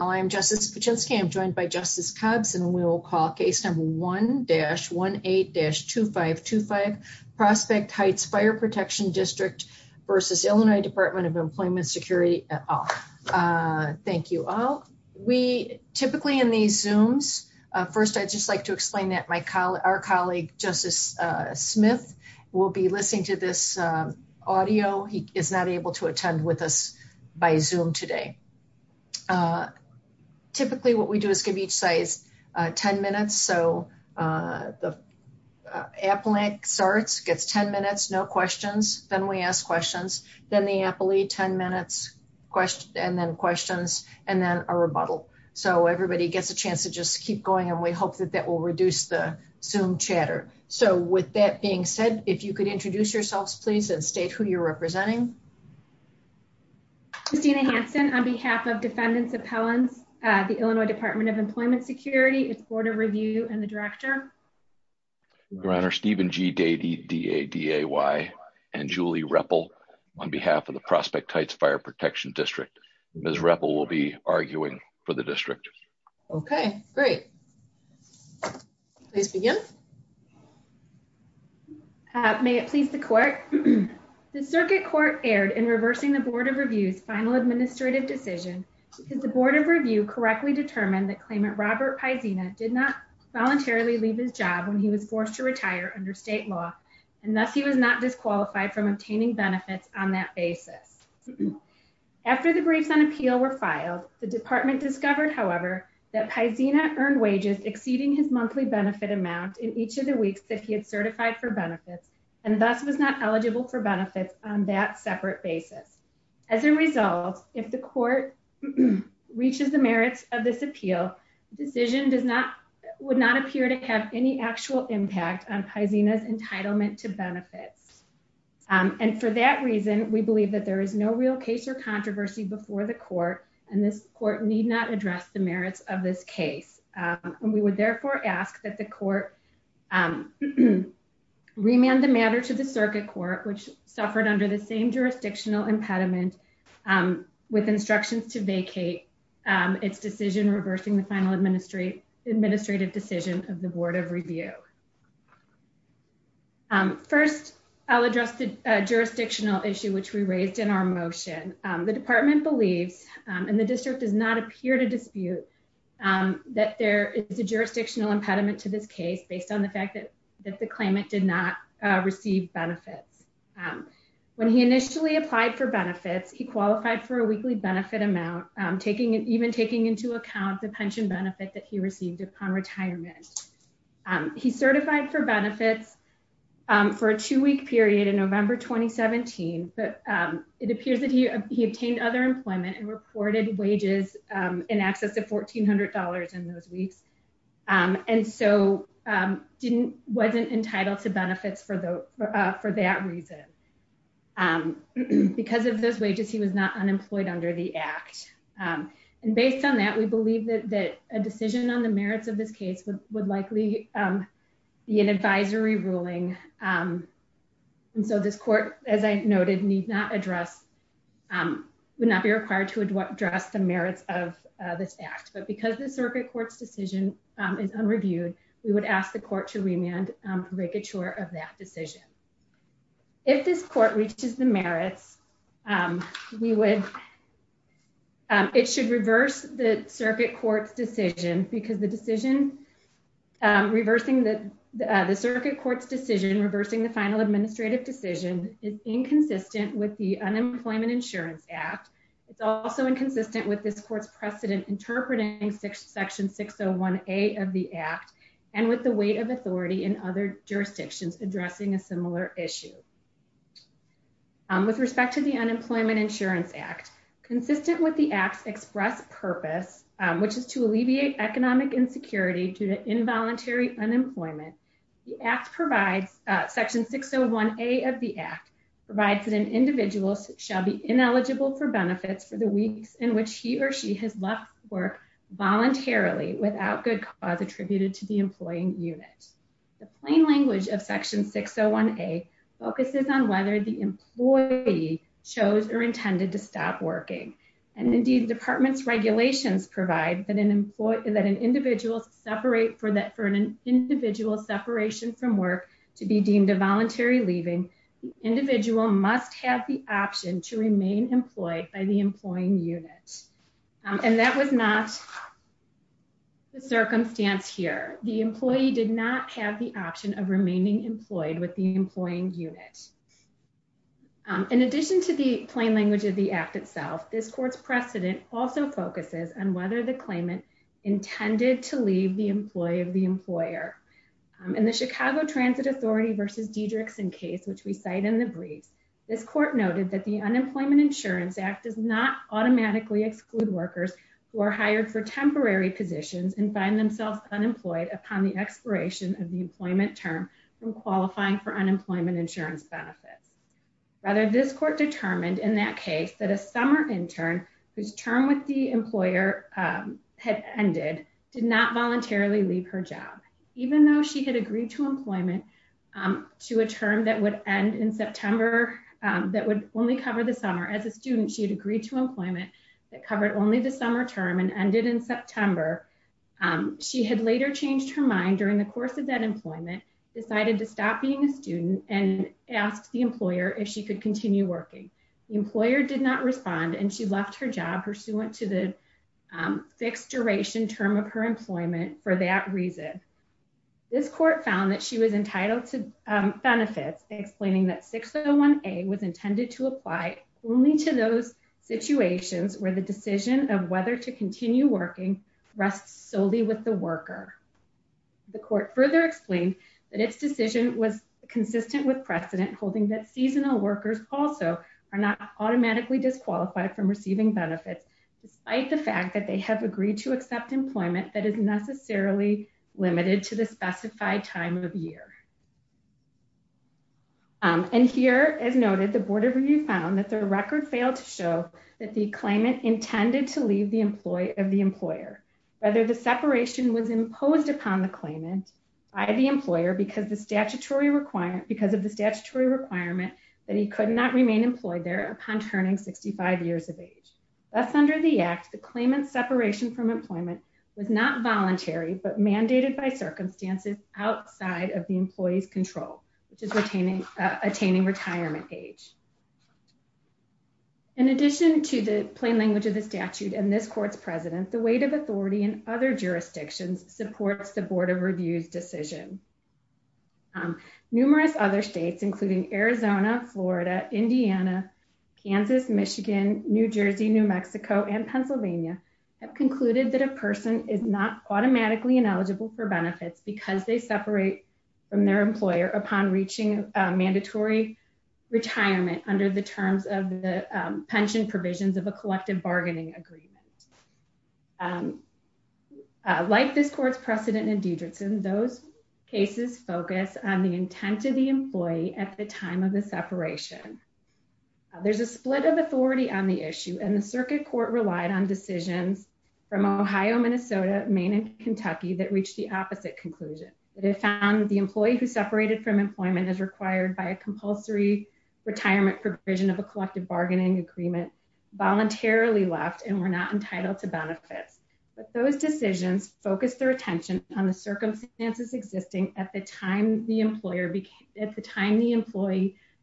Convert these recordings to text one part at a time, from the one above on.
I'm Justice Kuczynski. I'm joined by Justice Cubbs and we will call case number 1-18-2525, Prospect Heights Fire Protection District versus Illinois Department of Employment Security. Thank you all. We typically in these Zooms, first I'd just like to explain that my colleague, our colleague Justice Smith will be listening to this audio. He is not able to attend with us by Zoom today. Typically what we do is give each side 10 minutes. So the applet starts, gets 10 minutes, no questions, then we ask questions, then the applet 10 minutes, and then questions, and then a rebuttal. So everybody gets a chance to just keep going and we hope that that will reduce the Zoom chatter. So with that being said, if you could introduce yourselves please and state who you're representing. Justina Hanson on behalf of Defendants Appellants, the Illinois Department of Employment Security, its Board of Review, and the Director. Your Honor, Stephen G. Daday and Julie Reppel on behalf of the Prospect Heights Fire Protection District. Ms. Reppel will be arguing for the district. Okay, great. Please begin. May it please the court. The circuit court erred in reversing the Board of Review's final administrative decision because the Board of Review correctly determined that claimant Robert Paisina did not voluntarily leave his job when he was forced to retire under state law, and thus he was not disqualified from obtaining benefits on that basis. After the briefs on appeal were filed, the department discovered, however, that Paisina earned wages exceeding his monthly benefit amount in each of the weeks that he had certified for benefits and thus was not eligible for benefits on that separate basis. As a result, if the court reaches the merits of this appeal, the decision would not appear to have any actual impact on Paisina's entitlement to benefits. And for that reason, we believe that there is no real case or controversy before the court, and this court need not address the merits of this case. And we would therefore ask that the court remand the matter to the circuit court, which suffered under the same jurisdictional impediment with instructions to vacate its decision reversing the final administrative decision of the Board of Review. First, I'll address the jurisdictional issue, which we raised in our motion. The department believes, and the district does not appear to dispute, that there is a jurisdictional impediment to this case based on the fact that the claimant did not receive benefits. When he initially applied for benefits, he qualified for a weekly benefit amount, even taking into account the for benefits for a two-week period in November 2017, but it appears that he obtained other employment and reported wages in excess of $1,400 in those weeks, and so wasn't entitled to benefits for that reason. Because of those wages, he was not unemployed under the Act. And based on that, we believe that a decision on the merits of this case would likely be an advisory ruling. And so this court, as I noted, would not be required to address the merits of this Act. But because the circuit court's decision is unreviewed, we would ask the court to remand to make sure of that decision. If this court reaches the merits, it should the circuit court's decision reversing the final administrative decision is inconsistent with the Unemployment Insurance Act. It's also inconsistent with this court's precedent interpreting section 601A of the Act and with the weight of authority in other jurisdictions addressing a similar issue. With respect to the Unemployment Insurance Act, consistent with the Act's express purpose, which is to alleviate economic insecurity due to involuntary unemployment, section 601A of the Act provides that an individual shall be ineligible for benefits for the weeks in which he or she has left work voluntarily without good cause attributed to the employing unit. The plain language of section 601A focuses on whether the employee chose or intended to stop working. And indeed, department's regulations provide that an individual separate for that for an individual separation from work to be deemed a voluntary leaving, the individual must have the option to remain employed by the employing unit. And that was not the circumstance here. The employee did not have the option of remaining employed with the employing unit. In addition to the plain language of the Act itself, this court's precedent also focuses on whether the claimant intended to leave the employee of the employer. In the Chicago Transit Authority v. Dedrickson case, which we cite in the briefs, this court noted that the Unemployment Insurance Act does not automatically exclude workers who are hired for temporary positions and find themselves unemployed upon the expiration of the employment term from qualifying for benefits. Rather, this court determined in that case that a summer intern whose term with the employer had ended did not voluntarily leave her job. Even though she had agreed to employment to a term that would end in September, that would only cover the summer as a student, she had agreed to employment that covered only the summer term and ended in September. She had later changed her mind during the course of that employment, decided to stop being a employer if she could continue working. The employer did not respond and she left her job pursuant to the fixed duration term of her employment for that reason. This court found that she was entitled to benefits, explaining that 601A was intended to apply only to those situations where the decision of whether to continue working rests solely with the worker. The court further explained that its decision was consistent with precedent, holding that seasonal workers also are not automatically disqualified from receiving benefits, despite the fact that they have agreed to accept employment that is necessarily limited to the specified time of year. And here, as noted, the Board of Review found that the record failed to show that the claimant intended to leave the employee of the employer. Rather, the separation was imposed upon the claimant by the employer because of the statutory requirement that he could not remain employed there upon turning 65 years of age. Thus, under the act, the claimant's separation from employment was not voluntary but mandated by circumstances outside of the employee's control, which is attaining retirement age. In addition to the plain language of the statute and this court's precedent, the weight of authority in other jurisdictions supports the Board of Review's decision. Numerous other states, including Arizona, Florida, Indiana, Kansas, Michigan, New Jersey, New Mexico, and Pennsylvania, have concluded that a person is not automatically ineligible for benefits because they separate from their employer upon reaching mandatory retirement under the terms of the pension provisions of a collective bargaining agreement. Like this court's precedent in Diderotson, those cases focus on the intent of the employee at the time of the separation. There's a split of authority on the issue, and the circuit court relied on decisions from Ohio, Minnesota, Maine, and Kentucky that reached the opposite conclusion. They found the employee who separated from employment as required by a compulsory retirement provision of a collective bargaining agreement voluntarily left and were not entitled to benefits. But those decisions focused their attention on the circumstances existing at the time the employee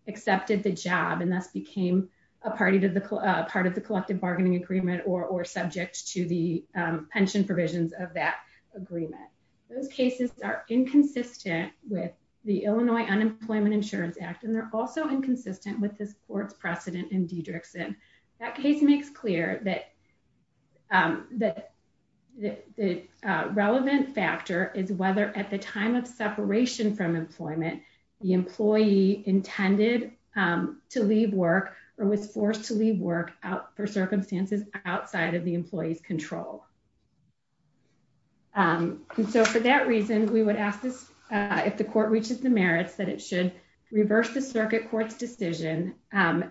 accepted the job and thus became a part of the collective bargaining agreement or subject to the pension provisions of that agreement. Those cases are inconsistent with the Illinois Unemployment Insurance Act, and they're also inconsistent with this court's precedent in Diderotson. That case makes clear that the relevant factor is whether at the time of separation from employment, the employee intended to leave work or was forced to leave work for circumstances outside of the employee's control. So for that reason, we would ask if the court reaches the merits that it should reverse the circuit court's decision and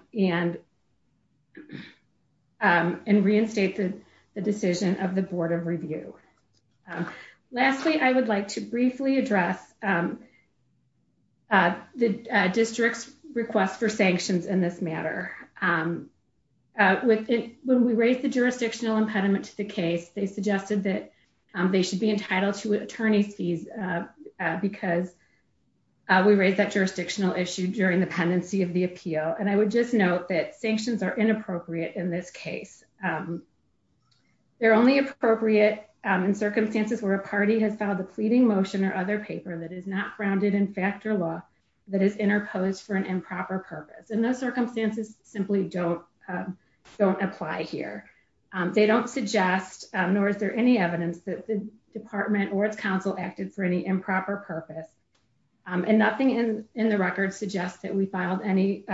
reinstate the decision of the board of review. Lastly, I would like to briefly address the district's request for sanctions in this matter. When we raised the jurisdictional impediment to the case, they suggested that they should be entitled to attorney's fees because we raised that jurisdictional issue during the pendency of the appeal. And I would just note that sanctions are inappropriate in this case. They're only appropriate in circumstances where a party has filed a pleading motion or other paper that is not grounded in factor law that is interposed for an improper purpose. And those don't apply here. They don't suggest, nor is there any evidence that the department or its counsel acted for any improper purpose. And nothing in the record suggests that we filed any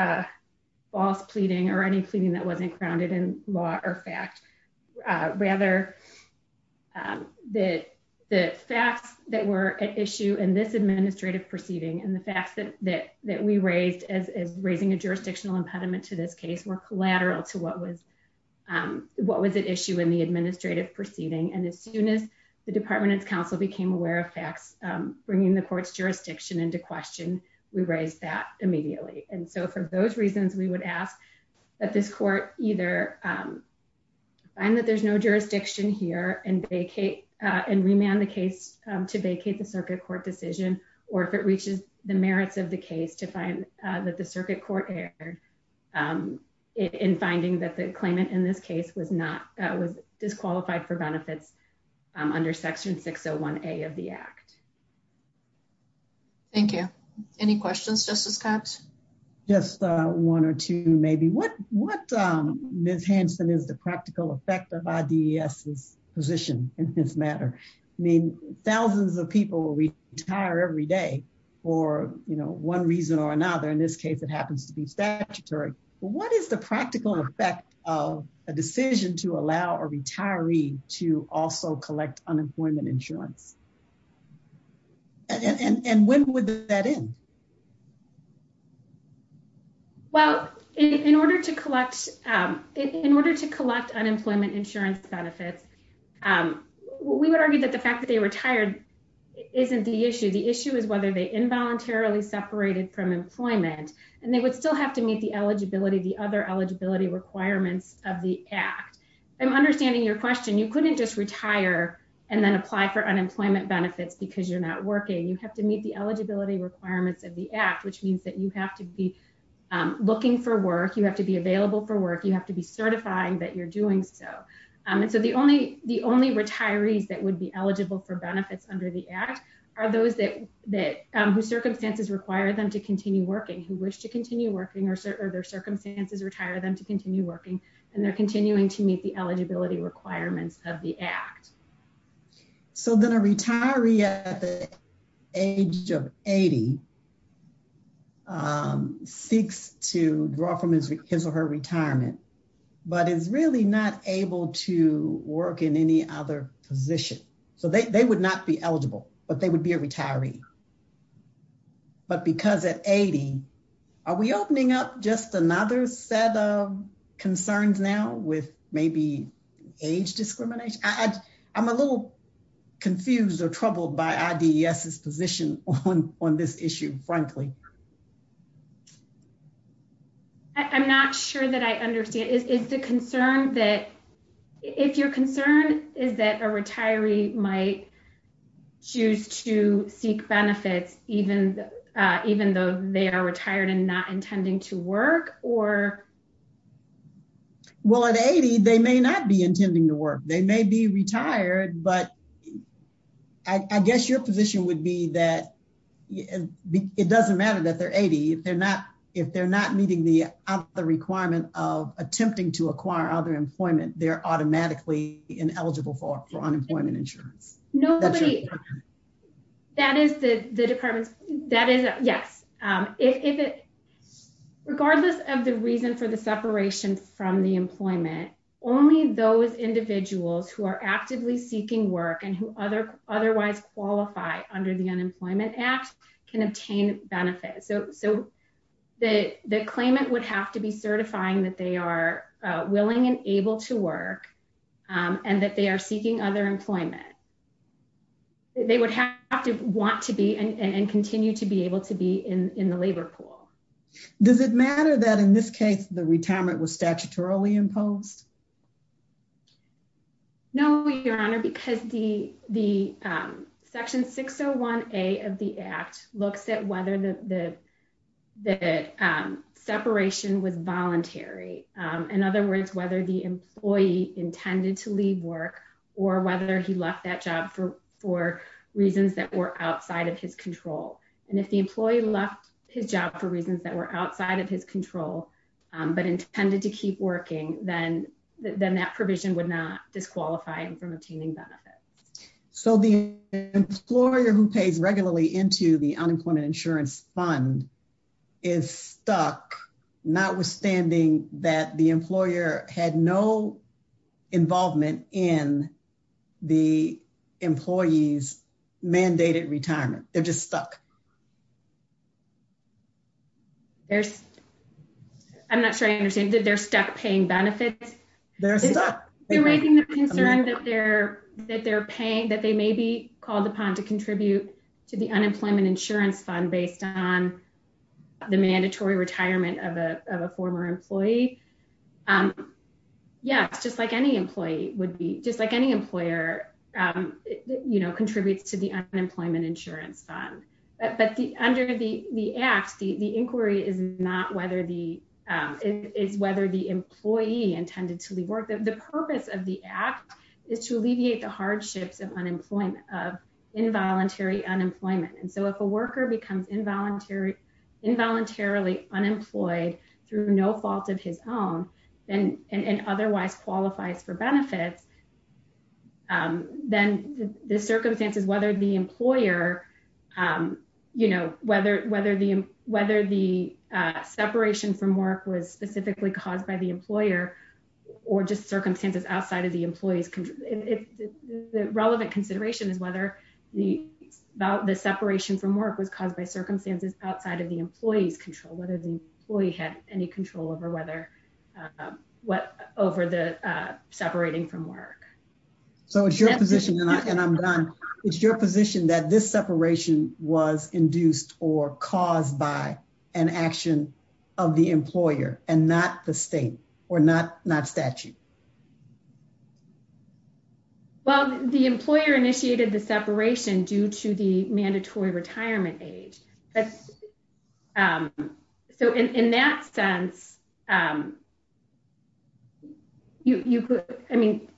false pleading or any pleading that wasn't grounded in law or fact. Rather, the facts that were at issue in this administrative proceeding and the facts that we raised as raising a jurisdictional impediment to this case were collateral to what was at issue in the administrative proceeding. And as soon as the department and counsel became aware of facts bringing the court's jurisdiction into question, we raised that immediately. And so for those reasons, we would ask that this court either find that there's no jurisdiction here and to find that the circuit court error in finding that the claimant in this case was disqualified for benefits under section 601A of the act. Thank you. Any questions, Justice Cox? Just one or two, maybe. What, Ms. Hanson, is the practical effect of IDES's position in this matter? I mean, thousands of people retire every day for, you know, one reason or another. In this case, it happens to be statutory. What is the practical effect of a decision to allow a retiree to also collect unemployment insurance? And when would that end? Well, in order to collect unemployment insurance benefits, we would argue that the fact that they retired isn't the issue. The issue is whether they involuntarily separated from employment and they would still have to meet the eligibility, the other eligibility requirements of the act. I'm understanding your question. You couldn't just retire and then apply for unemployment benefits because you're not working. You have to meet the eligibility requirements of the act, which means that you have to be looking for work. You have to be available for work. You have to be certifying that you're doing so. And so the only retirees that would be eligible for benefits under the act are those whose circumstances require them to continue working, who wish to continue working, or their circumstances retire them to continue working, and they're continuing to meet the eligibility requirements of the act. So then a retiree at the age of 80 seeks to draw from his or her retirement, but is really not able to work in any other position. So they would not be eligible, but they would be a retiree. But because at 80, are we opening up just another set of concerns now with maybe age discrimination? I'm a little confused or troubled by IDES's position on this issue, frankly. I'm not sure that I understand. Is the concern that, if your concern is that a retiree might choose to seek benefits even though they are retired and not intending to work? Well, at 80, they may not be intending to work. They may be retired, but I guess your position would be that it doesn't matter that they're 80. If they're not meeting the requirement of attempting to acquire other employment, they're automatically ineligible for unemployment insurance. No, but that is the department's... Yes. Regardless of the reason for the separation from the employment, only those individuals who are actively seeking work and who otherwise qualify under the Unemployment Act can obtain benefits. So the claimant would have to be certifying that they are willing and able to work and that they are seeking other employment. They would have to want to be and continue to be able to be in the labor pool. Does it matter that, in this case, the retirement was statutorily imposed? No, Your Honor, because the Section 601A of the Act looks at whether the separation was voluntary. In other words, whether the employee intended to leave work or whether he left that job for reasons that were outside of his control. And if the employee left his job for reasons that were outside of his control but intended to keep working, then that provision would not disqualify him from obtaining benefits. So the employer who pays regularly into the unemployment insurance fund, they're stuck, notwithstanding that the employer had no involvement in the employee's mandated retirement. They're just stuck. I'm not sure I understand. They're stuck paying benefits? They're stuck. They're raising their concern that they're paying, that they may be called upon to contribute to the unemployment insurance fund based on the mandatory retirement of a former employee. Yes, just like any employee would be, just like any employer, you know, contributes to the unemployment insurance fund. But under the Act, the inquiry is not whether the employee intended to leave work. The purpose of the Act is to alleviate the hardships of unemployment, of involuntary unemployment. And so if a worker becomes involuntarily unemployed through no fault of his own and otherwise qualifies for benefits, then the circumstances, whether the employer, you know, whether the separation from work was specifically caused by the employer or just circumstances outside of the employee's, if the relevant consideration is whether the separation from work was caused by circumstances outside of the employee's control, whether the employee had any control over whether, what, over the separating from work. So it's your position, and I'm done, it's your position that this separation was induced or caused by an action of the employer and not the state or not statute. Well, the employer initiated the separation due to the mandatory retirement age. So in that sense, you could, I mean,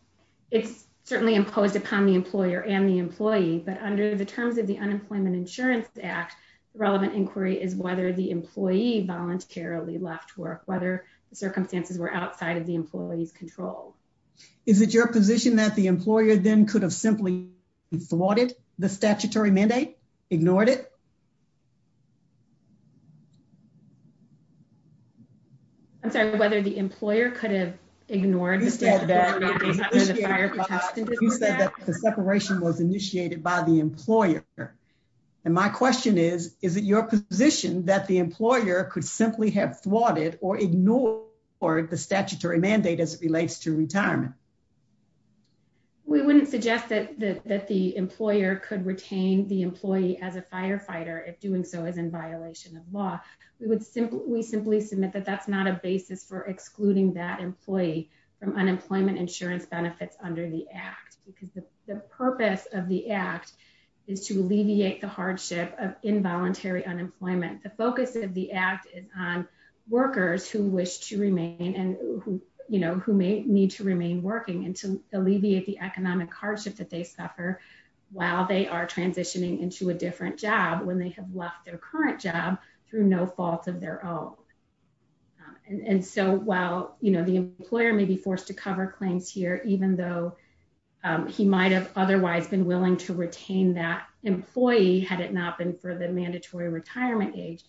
it's certainly imposed upon the employer and the employee. But under the terms of the Unemployment Insurance Act, the relevant inquiry is whether the employee voluntarily left work, whether the circumstances were outside of the employee's control. Is it your position that the employer then could have simply thwarted the statutory mandate, ignored it? I'm sorry, whether the employer could have ignored the statute. You said that the separation was initiated by the employer. And my question is, is it your position that the employer could simply have thwarted or ignored the statutory mandate as it relates to retirement? We wouldn't suggest that the employer could retain the employee as a firefighter if doing so is in violation of law. We would simply, we simply submit that that's not a basis for excluding that employee from unemployment insurance benefits under the purpose of the act is to alleviate the hardship of involuntary unemployment. The focus of the act is on workers who wish to remain and who, you know, who may need to remain working and to alleviate the economic hardship that they suffer while they are transitioning into a different job when they have left their current job through no fault of their own. And so while, you know, the employer may be forced to cover claims here, even though he might have otherwise been willing to retain that employee, had it not been for the mandatory retirement age,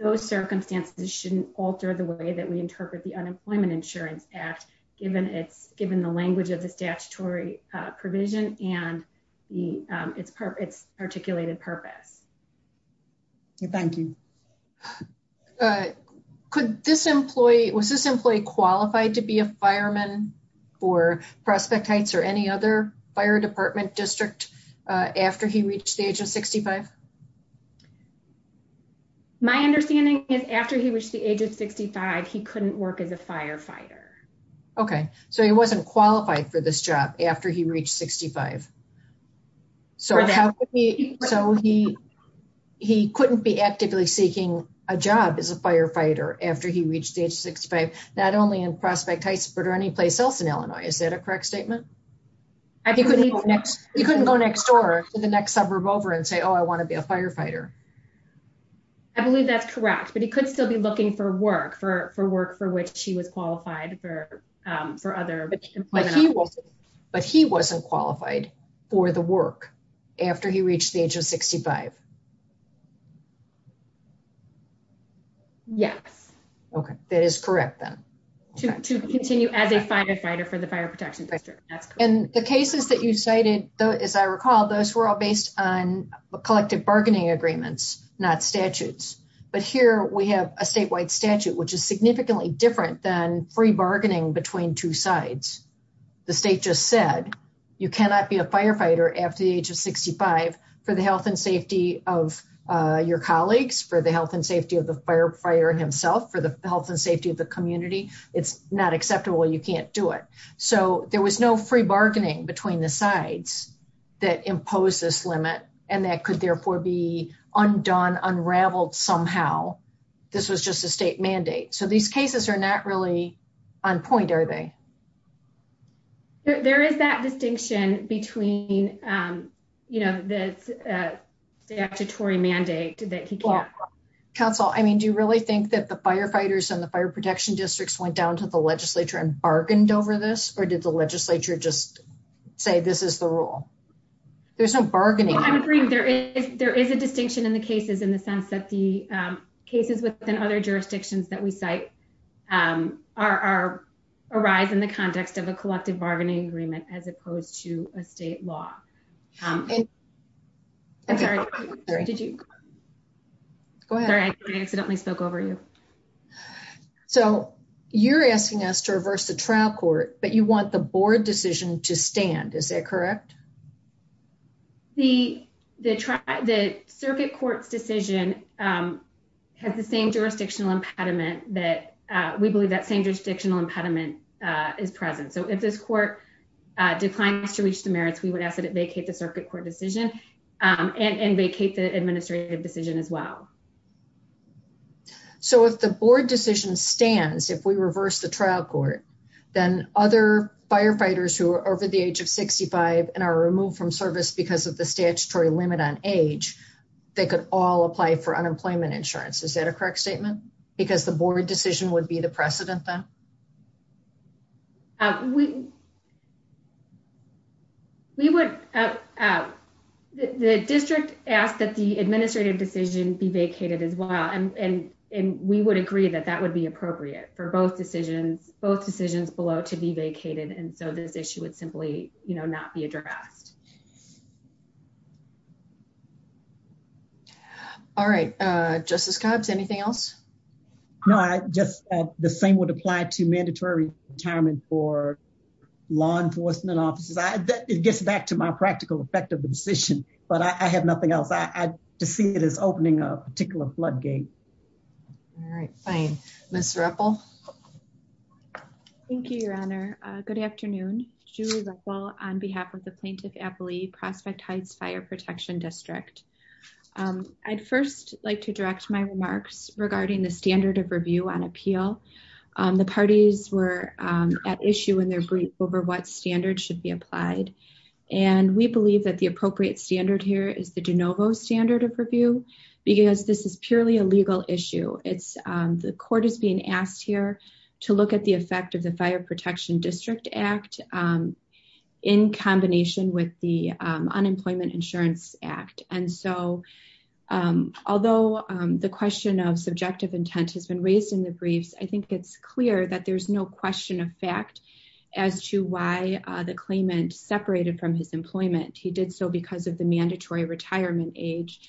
those circumstances shouldn't alter the way that we interpret the Unemployment Insurance Act, given the language of the statutory provision and its articulated purpose. Thank you. Could this employee, was this employee qualified to be a fireman for Prospect Heights or any other fire department district after he reached the age of 65? My understanding is after he reached the age of 65, he couldn't work as a firefighter. Okay, so he wasn't qualified for this job after he reached 65. So he couldn't be actively seeking a job as a firefighter after he reached the age of 65, not only in Prospect Heights, but any place else in Illinois. Is that a correct statement? I think he couldn't go next door to the next suburb over and say, oh, I want to be a firefighter. I believe that's correct, but he could still be looking for work, for work for which he was qualified for the work after he reached the age of 65. Yes. Okay, that is correct then. To continue as a firefighter for the fire protection district. And the cases that you cited, as I recall, those were all based on collective bargaining agreements, not statutes. But here we have a statewide statute, which is significantly different than free bargaining between two sides. The state just said, you cannot be a firefighter after the age of 65 for the health and safety of your colleagues, for the health and safety of the firefighter himself, for the health and safety of the community. It's not acceptable. You can't do it. So there was no free bargaining between the sides that impose this limit. And that could therefore be undone unraveled somehow. This was just a state mandate. So these cases are not really on point, are they? There is that distinction between, you know, the statutory mandate that he can't. Counsel, I mean, do you really think that the firefighters and the fire protection districts went down to the legislature and bargained over this? Or did the legislature just say this is the rule? There's no bargaining. I'm agreeing there is there is a distinction in cases in the sense that the cases within other jurisdictions that we cite are arise in the context of a collective bargaining agreement as opposed to a state law. I'm sorry. Did you go ahead? I accidentally spoke over you. So you're asking us to reverse the trial court, but you want the board decision to stand. Is that correct? The circuit court's decision has the same jurisdictional impediment that we believe that same jurisdictional impediment is present. So if this court declines to reach the merits, we would ask that it vacate the circuit court decision and vacate the administrative decision as well. So if the board decision stands, if we reverse the trial court, then other firefighters who are over the age of 65 and are removed from service because of the statutory limit on age, they could all apply for unemployment insurance. Is that a correct statement? Because the board decision would be the precedent then? Uh, we, we would, uh, the district asked that the administrative decision be vacated as well. And we would agree that that would be appropriate for both decisions, both decisions below to be vacated. And so this issue would simply, you know, not be addressed. All right. Uh, Justice Cobbs, anything else? No, I just, uh, the same would apply to mandatory retirement for law enforcement offices. I, it gets back to my practical effect of the decision, but I have nothing else. I, I just see it as opening a particular floodgate. All right, fine. Ms. Ruppel. Thank you, Your Honor. Uh, good afternoon. Julie Ruppel on behalf of the plaintiff's Prospect Heights fire protection district. Um, I'd first like to direct my remarks regarding the standard of review on appeal. Um, the parties were, um, at issue in their brief over what standards should be applied. And we believe that the appropriate standard here is the DeNovo standard of review, because this is purely a legal issue. It's, um, the court is being asked here to look at the effect of the fire protection district act, um, in combination with the, um, unemployment insurance act. And so, um, although, um, the question of subjective intent has been raised in the briefs, I think it's clear that there's no question of fact as to why the claimant separated from his employment. He did so because of the mandatory retirement age.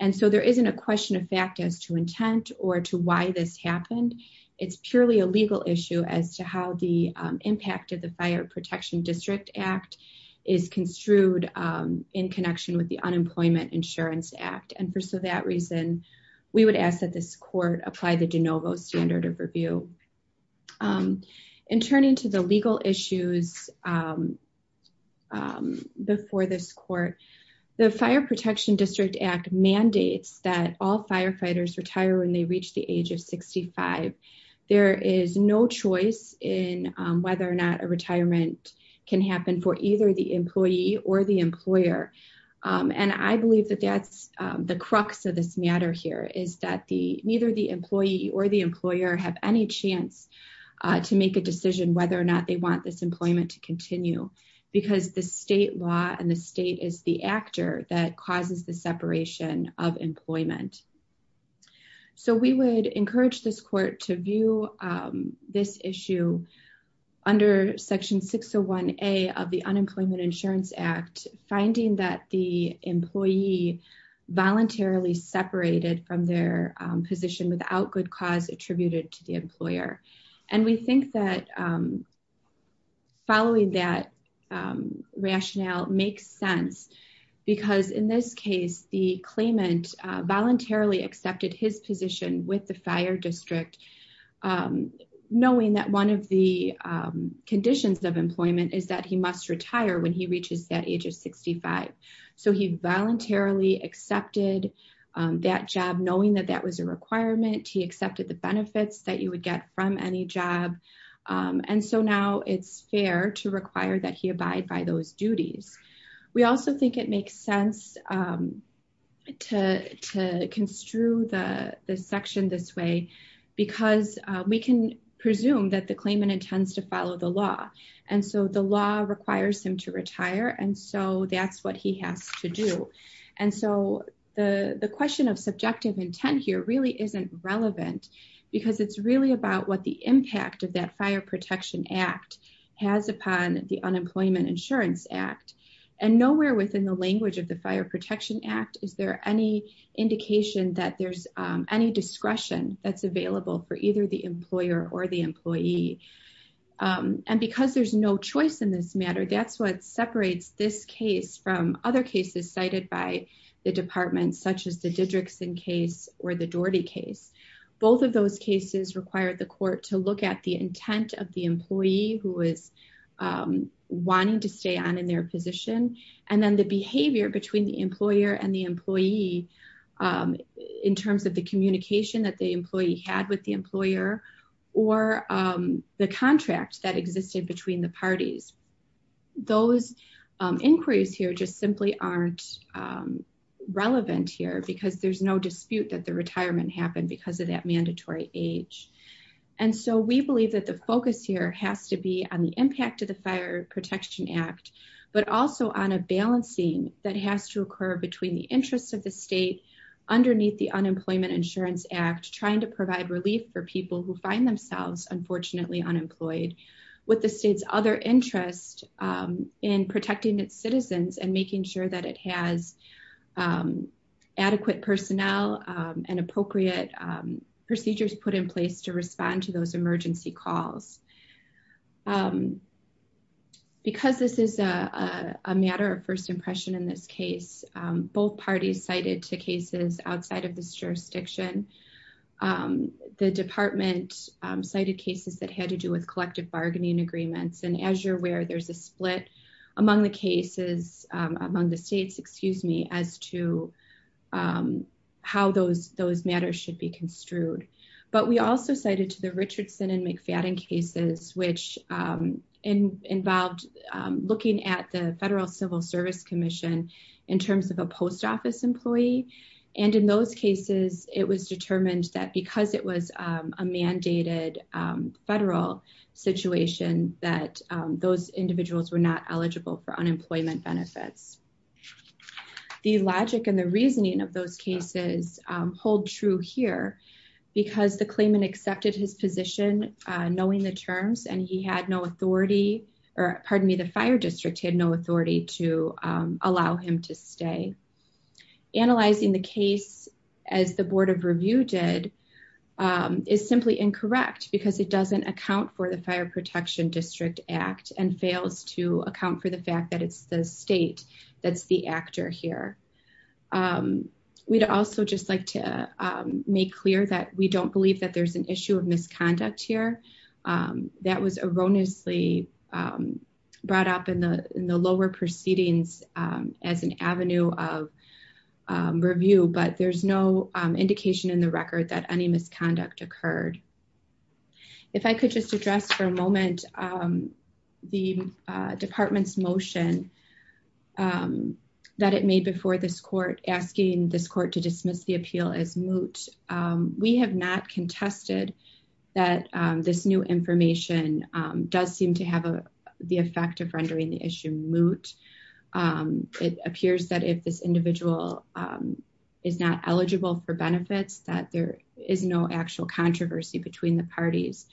And so there isn't a question of fact as to intent or to why this happened. It's purely a legal issue as to how the, um, impact of the fire protection district act is construed, um, in connection with the unemployment insurance act. And for, so that reason we would ask that this court apply the DeNovo standard of review. Um, and turning to the legal issues, um, um, before this court, the fire protection district act mandates that all firefighters retire when they reach the age of 65, there is no choice in, um, whether or not a retirement can happen for either the employee or the employer. Um, and I believe that that's, um, the crux of this matter here is that the, neither the employee or the employer have any chance, uh, to make a decision whether or not they want this employment to continue because the state law and the state is the actor that causes the separation of employment. So we would encourage this court to view, um, this issue under section 601A of the unemployment insurance act, finding that the employee voluntarily separated from their position without good cause attributed to the employer. And we think that, um, following that, um, rationale makes sense because in this case, the claimant voluntarily accepted his position with the fire district, um, knowing that one of the, um, conditions of employment is that he must retire when he reaches that age of 65. So he voluntarily accepted, um, that job knowing that that was a requirement. He accepted the benefits that you would get from any job. Um, and so now it's fair to require that he abide by those duties. We also think it makes sense, um, to, to construe the section this way because, uh, we can presume that the claimant intends to follow the law. And so the law requires him to retire. And so that's what he has to do. And so the, the question of subjective intent here really isn't relevant because it's really about what the impact of that fire protection act has upon the unemployment insurance act and nowhere within the language of the fire protection act. Is there any indication that there's, um, any discretion that's available for either the employer or the employee? Um, and because there's no choice in this matter, that's what separates this case from other cases cited by the department, such as the didrickson case or the Doherty case. Both of those cases required the court to look at the intent of the employee who is, um, wanting to stay on in their position. And then the behavior between the employer and the employee, um, in terms of the communication that the employee had with the those inquiries here just simply aren't, um, relevant here because there's no dispute that the retirement happened because of that mandatory age. And so we believe that the focus here has to be on the impact of the fire protection act, but also on a balancing that has to occur between the interests of the state underneath the unemployment insurance act, trying to provide relief for people who find themselves, unfortunately, unemployed with the state's other interest, um, in protecting its citizens and making sure that it has, um, adequate personnel, um, and appropriate, um, procedures put in place to respond to those emergency calls. Um, because this is a, uh, a matter of first impression in this case, um, both parties cited to cases outside of this cited cases that had to do with collective bargaining agreements. And as you're aware, there's a split among the cases, um, among the States, excuse me, as to, um, how those, those matters should be construed. But we also cited to the Richardson and McFadden cases, which, um, in involved, um, looking at the federal civil service commission in terms of a post office employee. And in those cases, it was determined that because it was, um, a mandated, um, federal situation that, um, those individuals were not eligible for unemployment benefits, the logic and the reasoning of those cases, um, hold true here because the claimant accepted his position, uh, knowing the terms and he had no authority or pardon me, the fire district had to, um, allow him to stay analyzing the case as the board of review did, um, is simply incorrect because it doesn't account for the fire protection district act and fails to account for the fact that it's the state that's the actor here. Um, we'd also just like to, um, make clear that we don't believe that there's an issue of misconduct here. Um, that was erroneously, um, brought up in the lower proceedings, um, as an avenue of, um, review, but there's no indication in the record that any misconduct occurred. If I could just address for a moment, um, the, uh, department's motion, um, that it made before this court asking this court to dismiss the appeal as moot. Um, we have not contested that, um, this new information, um, does seem to have the effect of rendering the issue moot. Um, it appears that if this individual, um, is not eligible for benefits, that there is no actual controversy between the parties.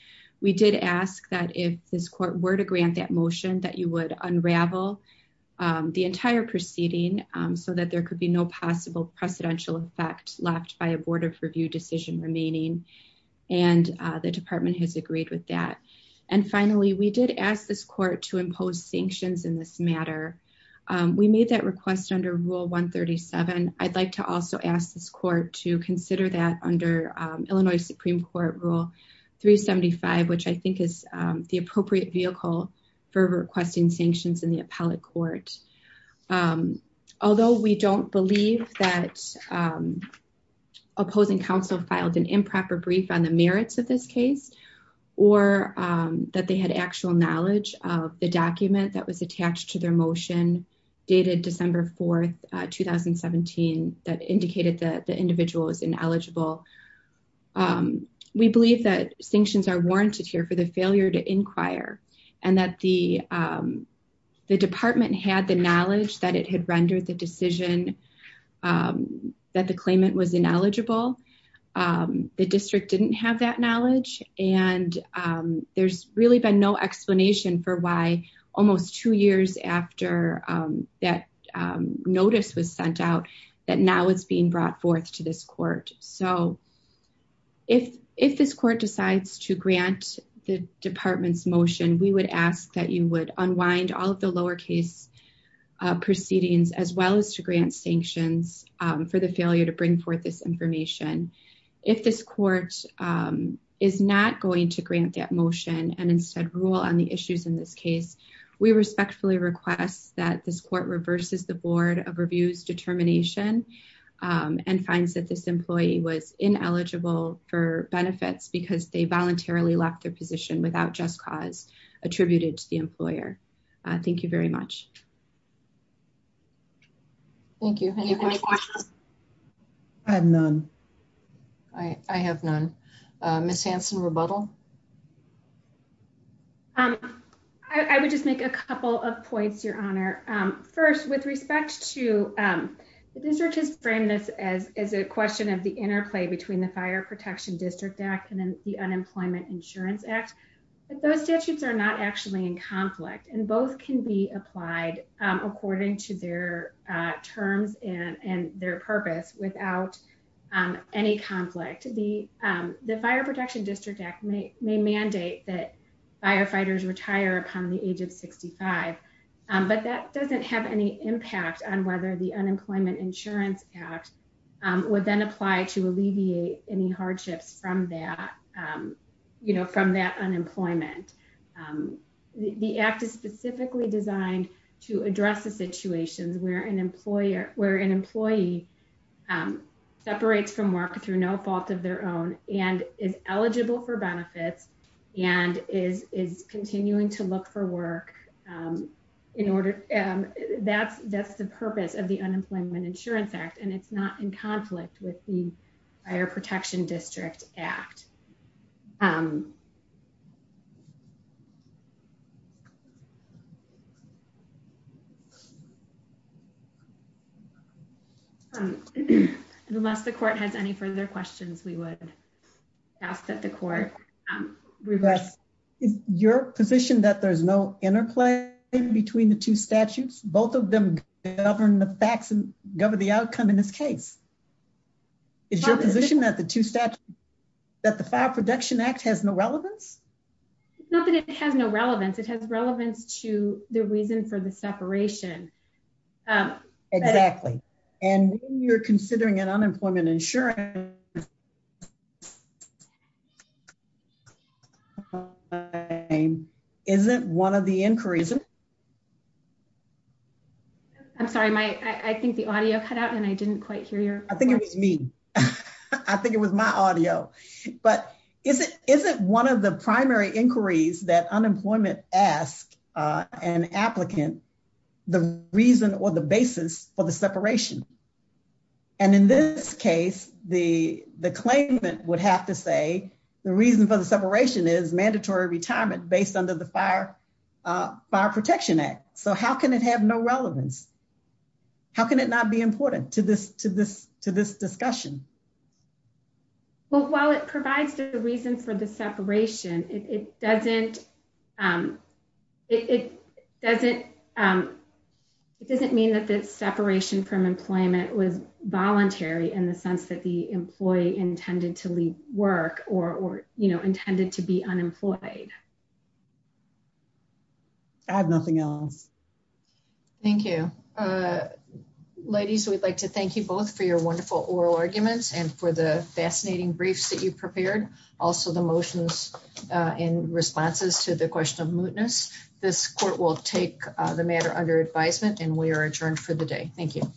We did ask that if this court were to grant that motion that you would unravel, um, the entire proceeding, um, so that there could be no possible precedential effect left by a board of review decision remaining. And, uh, the department has agreed with that. And finally, we did ask this court to impose sanctions in this matter. Um, we made that request under rule one 37. I'd like to also ask this court to consider that under, um, Illinois Supreme court rule three 75, which I think is, um, the appropriate vehicle for requesting sanctions in the appellate court. Um, although we don't believe that, um, opposing counsel filed an improper brief on the merits of this case, or, um, that they had actual knowledge of the document that was attached to their motion dated December 4th, 2017, that indicated that the individual is ineligible. Um, we believe that sanctions are warranted here for the failure to inquire and that the, um, the department had the knowledge that it had rendered the decision, um, that the claimant was ineligible. Um, the district didn't have that knowledge. And, um, there's really been no explanation for why almost two years after, um, that, um, notice was sent out that now it's being brought forth to this court. So if, if this court decides to grant the department's motion, we would ask that you would unwind all of the lowercase, uh, proceedings, as well as to grant sanctions, um, for the failure to bring forth this information. If this court, um, is not going to grant that motion and instead rule on the issues in this case, we respectfully request that this court reverses the board of reviews determination, um, and finds that this employee was ineligible for benefits because they voluntarily left their position without just cause attributed to the employer. Uh, thank you very much. Thank you. I have none. I have none. Uh, Ms. Hanson rebuttal. Um, I would just make a couple of points, your honor. Um, first with respect to, um, researchers frame this as, as a question of the interplay between the fire protection district act and then the unemployment insurance act, but those statutes are not actually in conflict and both can be applied, um, according to their, uh, terms and, and their purpose without, um, any conflict, the, um, the fire protection district act may mandate that firefighters retire upon the age of 65. Um, but that doesn't have any impact on whether the unemployment insurance act, um, would then apply to alleviate any hardships from that, um, you know, from that unemployment. Um, the, the act is specifically designed to address the situations where an employer, where an employee, um, separates from work through no fault of their own and is eligible for benefits and is, is continuing to look for work, um, in order. Um, that's, that's the purpose of the unemployment insurance act and it's not in conflict with the fire protection district act. Um, unless the court has any further questions, we would ask that the court, um, reverse your position that there's no interplay between the two statutes. Both of them govern the facts and govern the outcome in this case. It's your position that the two stats that the relevance, it has relevance to the reason for the separation. Um, exactly. And when you're considering an unemployment insurance, isn't one of the inquiries, I'm sorry, my, I think the audio cut out and I didn't quite hear you. I think it was me. I think it was my audio, but is it, isn't one of the primary inquiries that unemployment ask, uh, an applicant, the reason or the basis for the separation? And in this case, the, the claimant would have to say the reason for the separation is mandatory retirement based under the fire, uh, fire protection act. So how can it have no relevance? How can it not be important to this, to this, to this discussion? Well, while it provides the reason for the separation, it doesn't, um, it doesn't, um, it doesn't mean that the separation from employment was voluntary in the sense that the employee intended to leave work or, or, you know, intended to be unemployed. I have nothing else. Thank you. Uh, ladies, we'd like to thank you both for your wonderful oral arguments and for the fascinating brief that you've prepared. Also the motions, uh, in responses to the question of mootness, this court will take the matter under advisement and we are adjourned for the day. Thank you.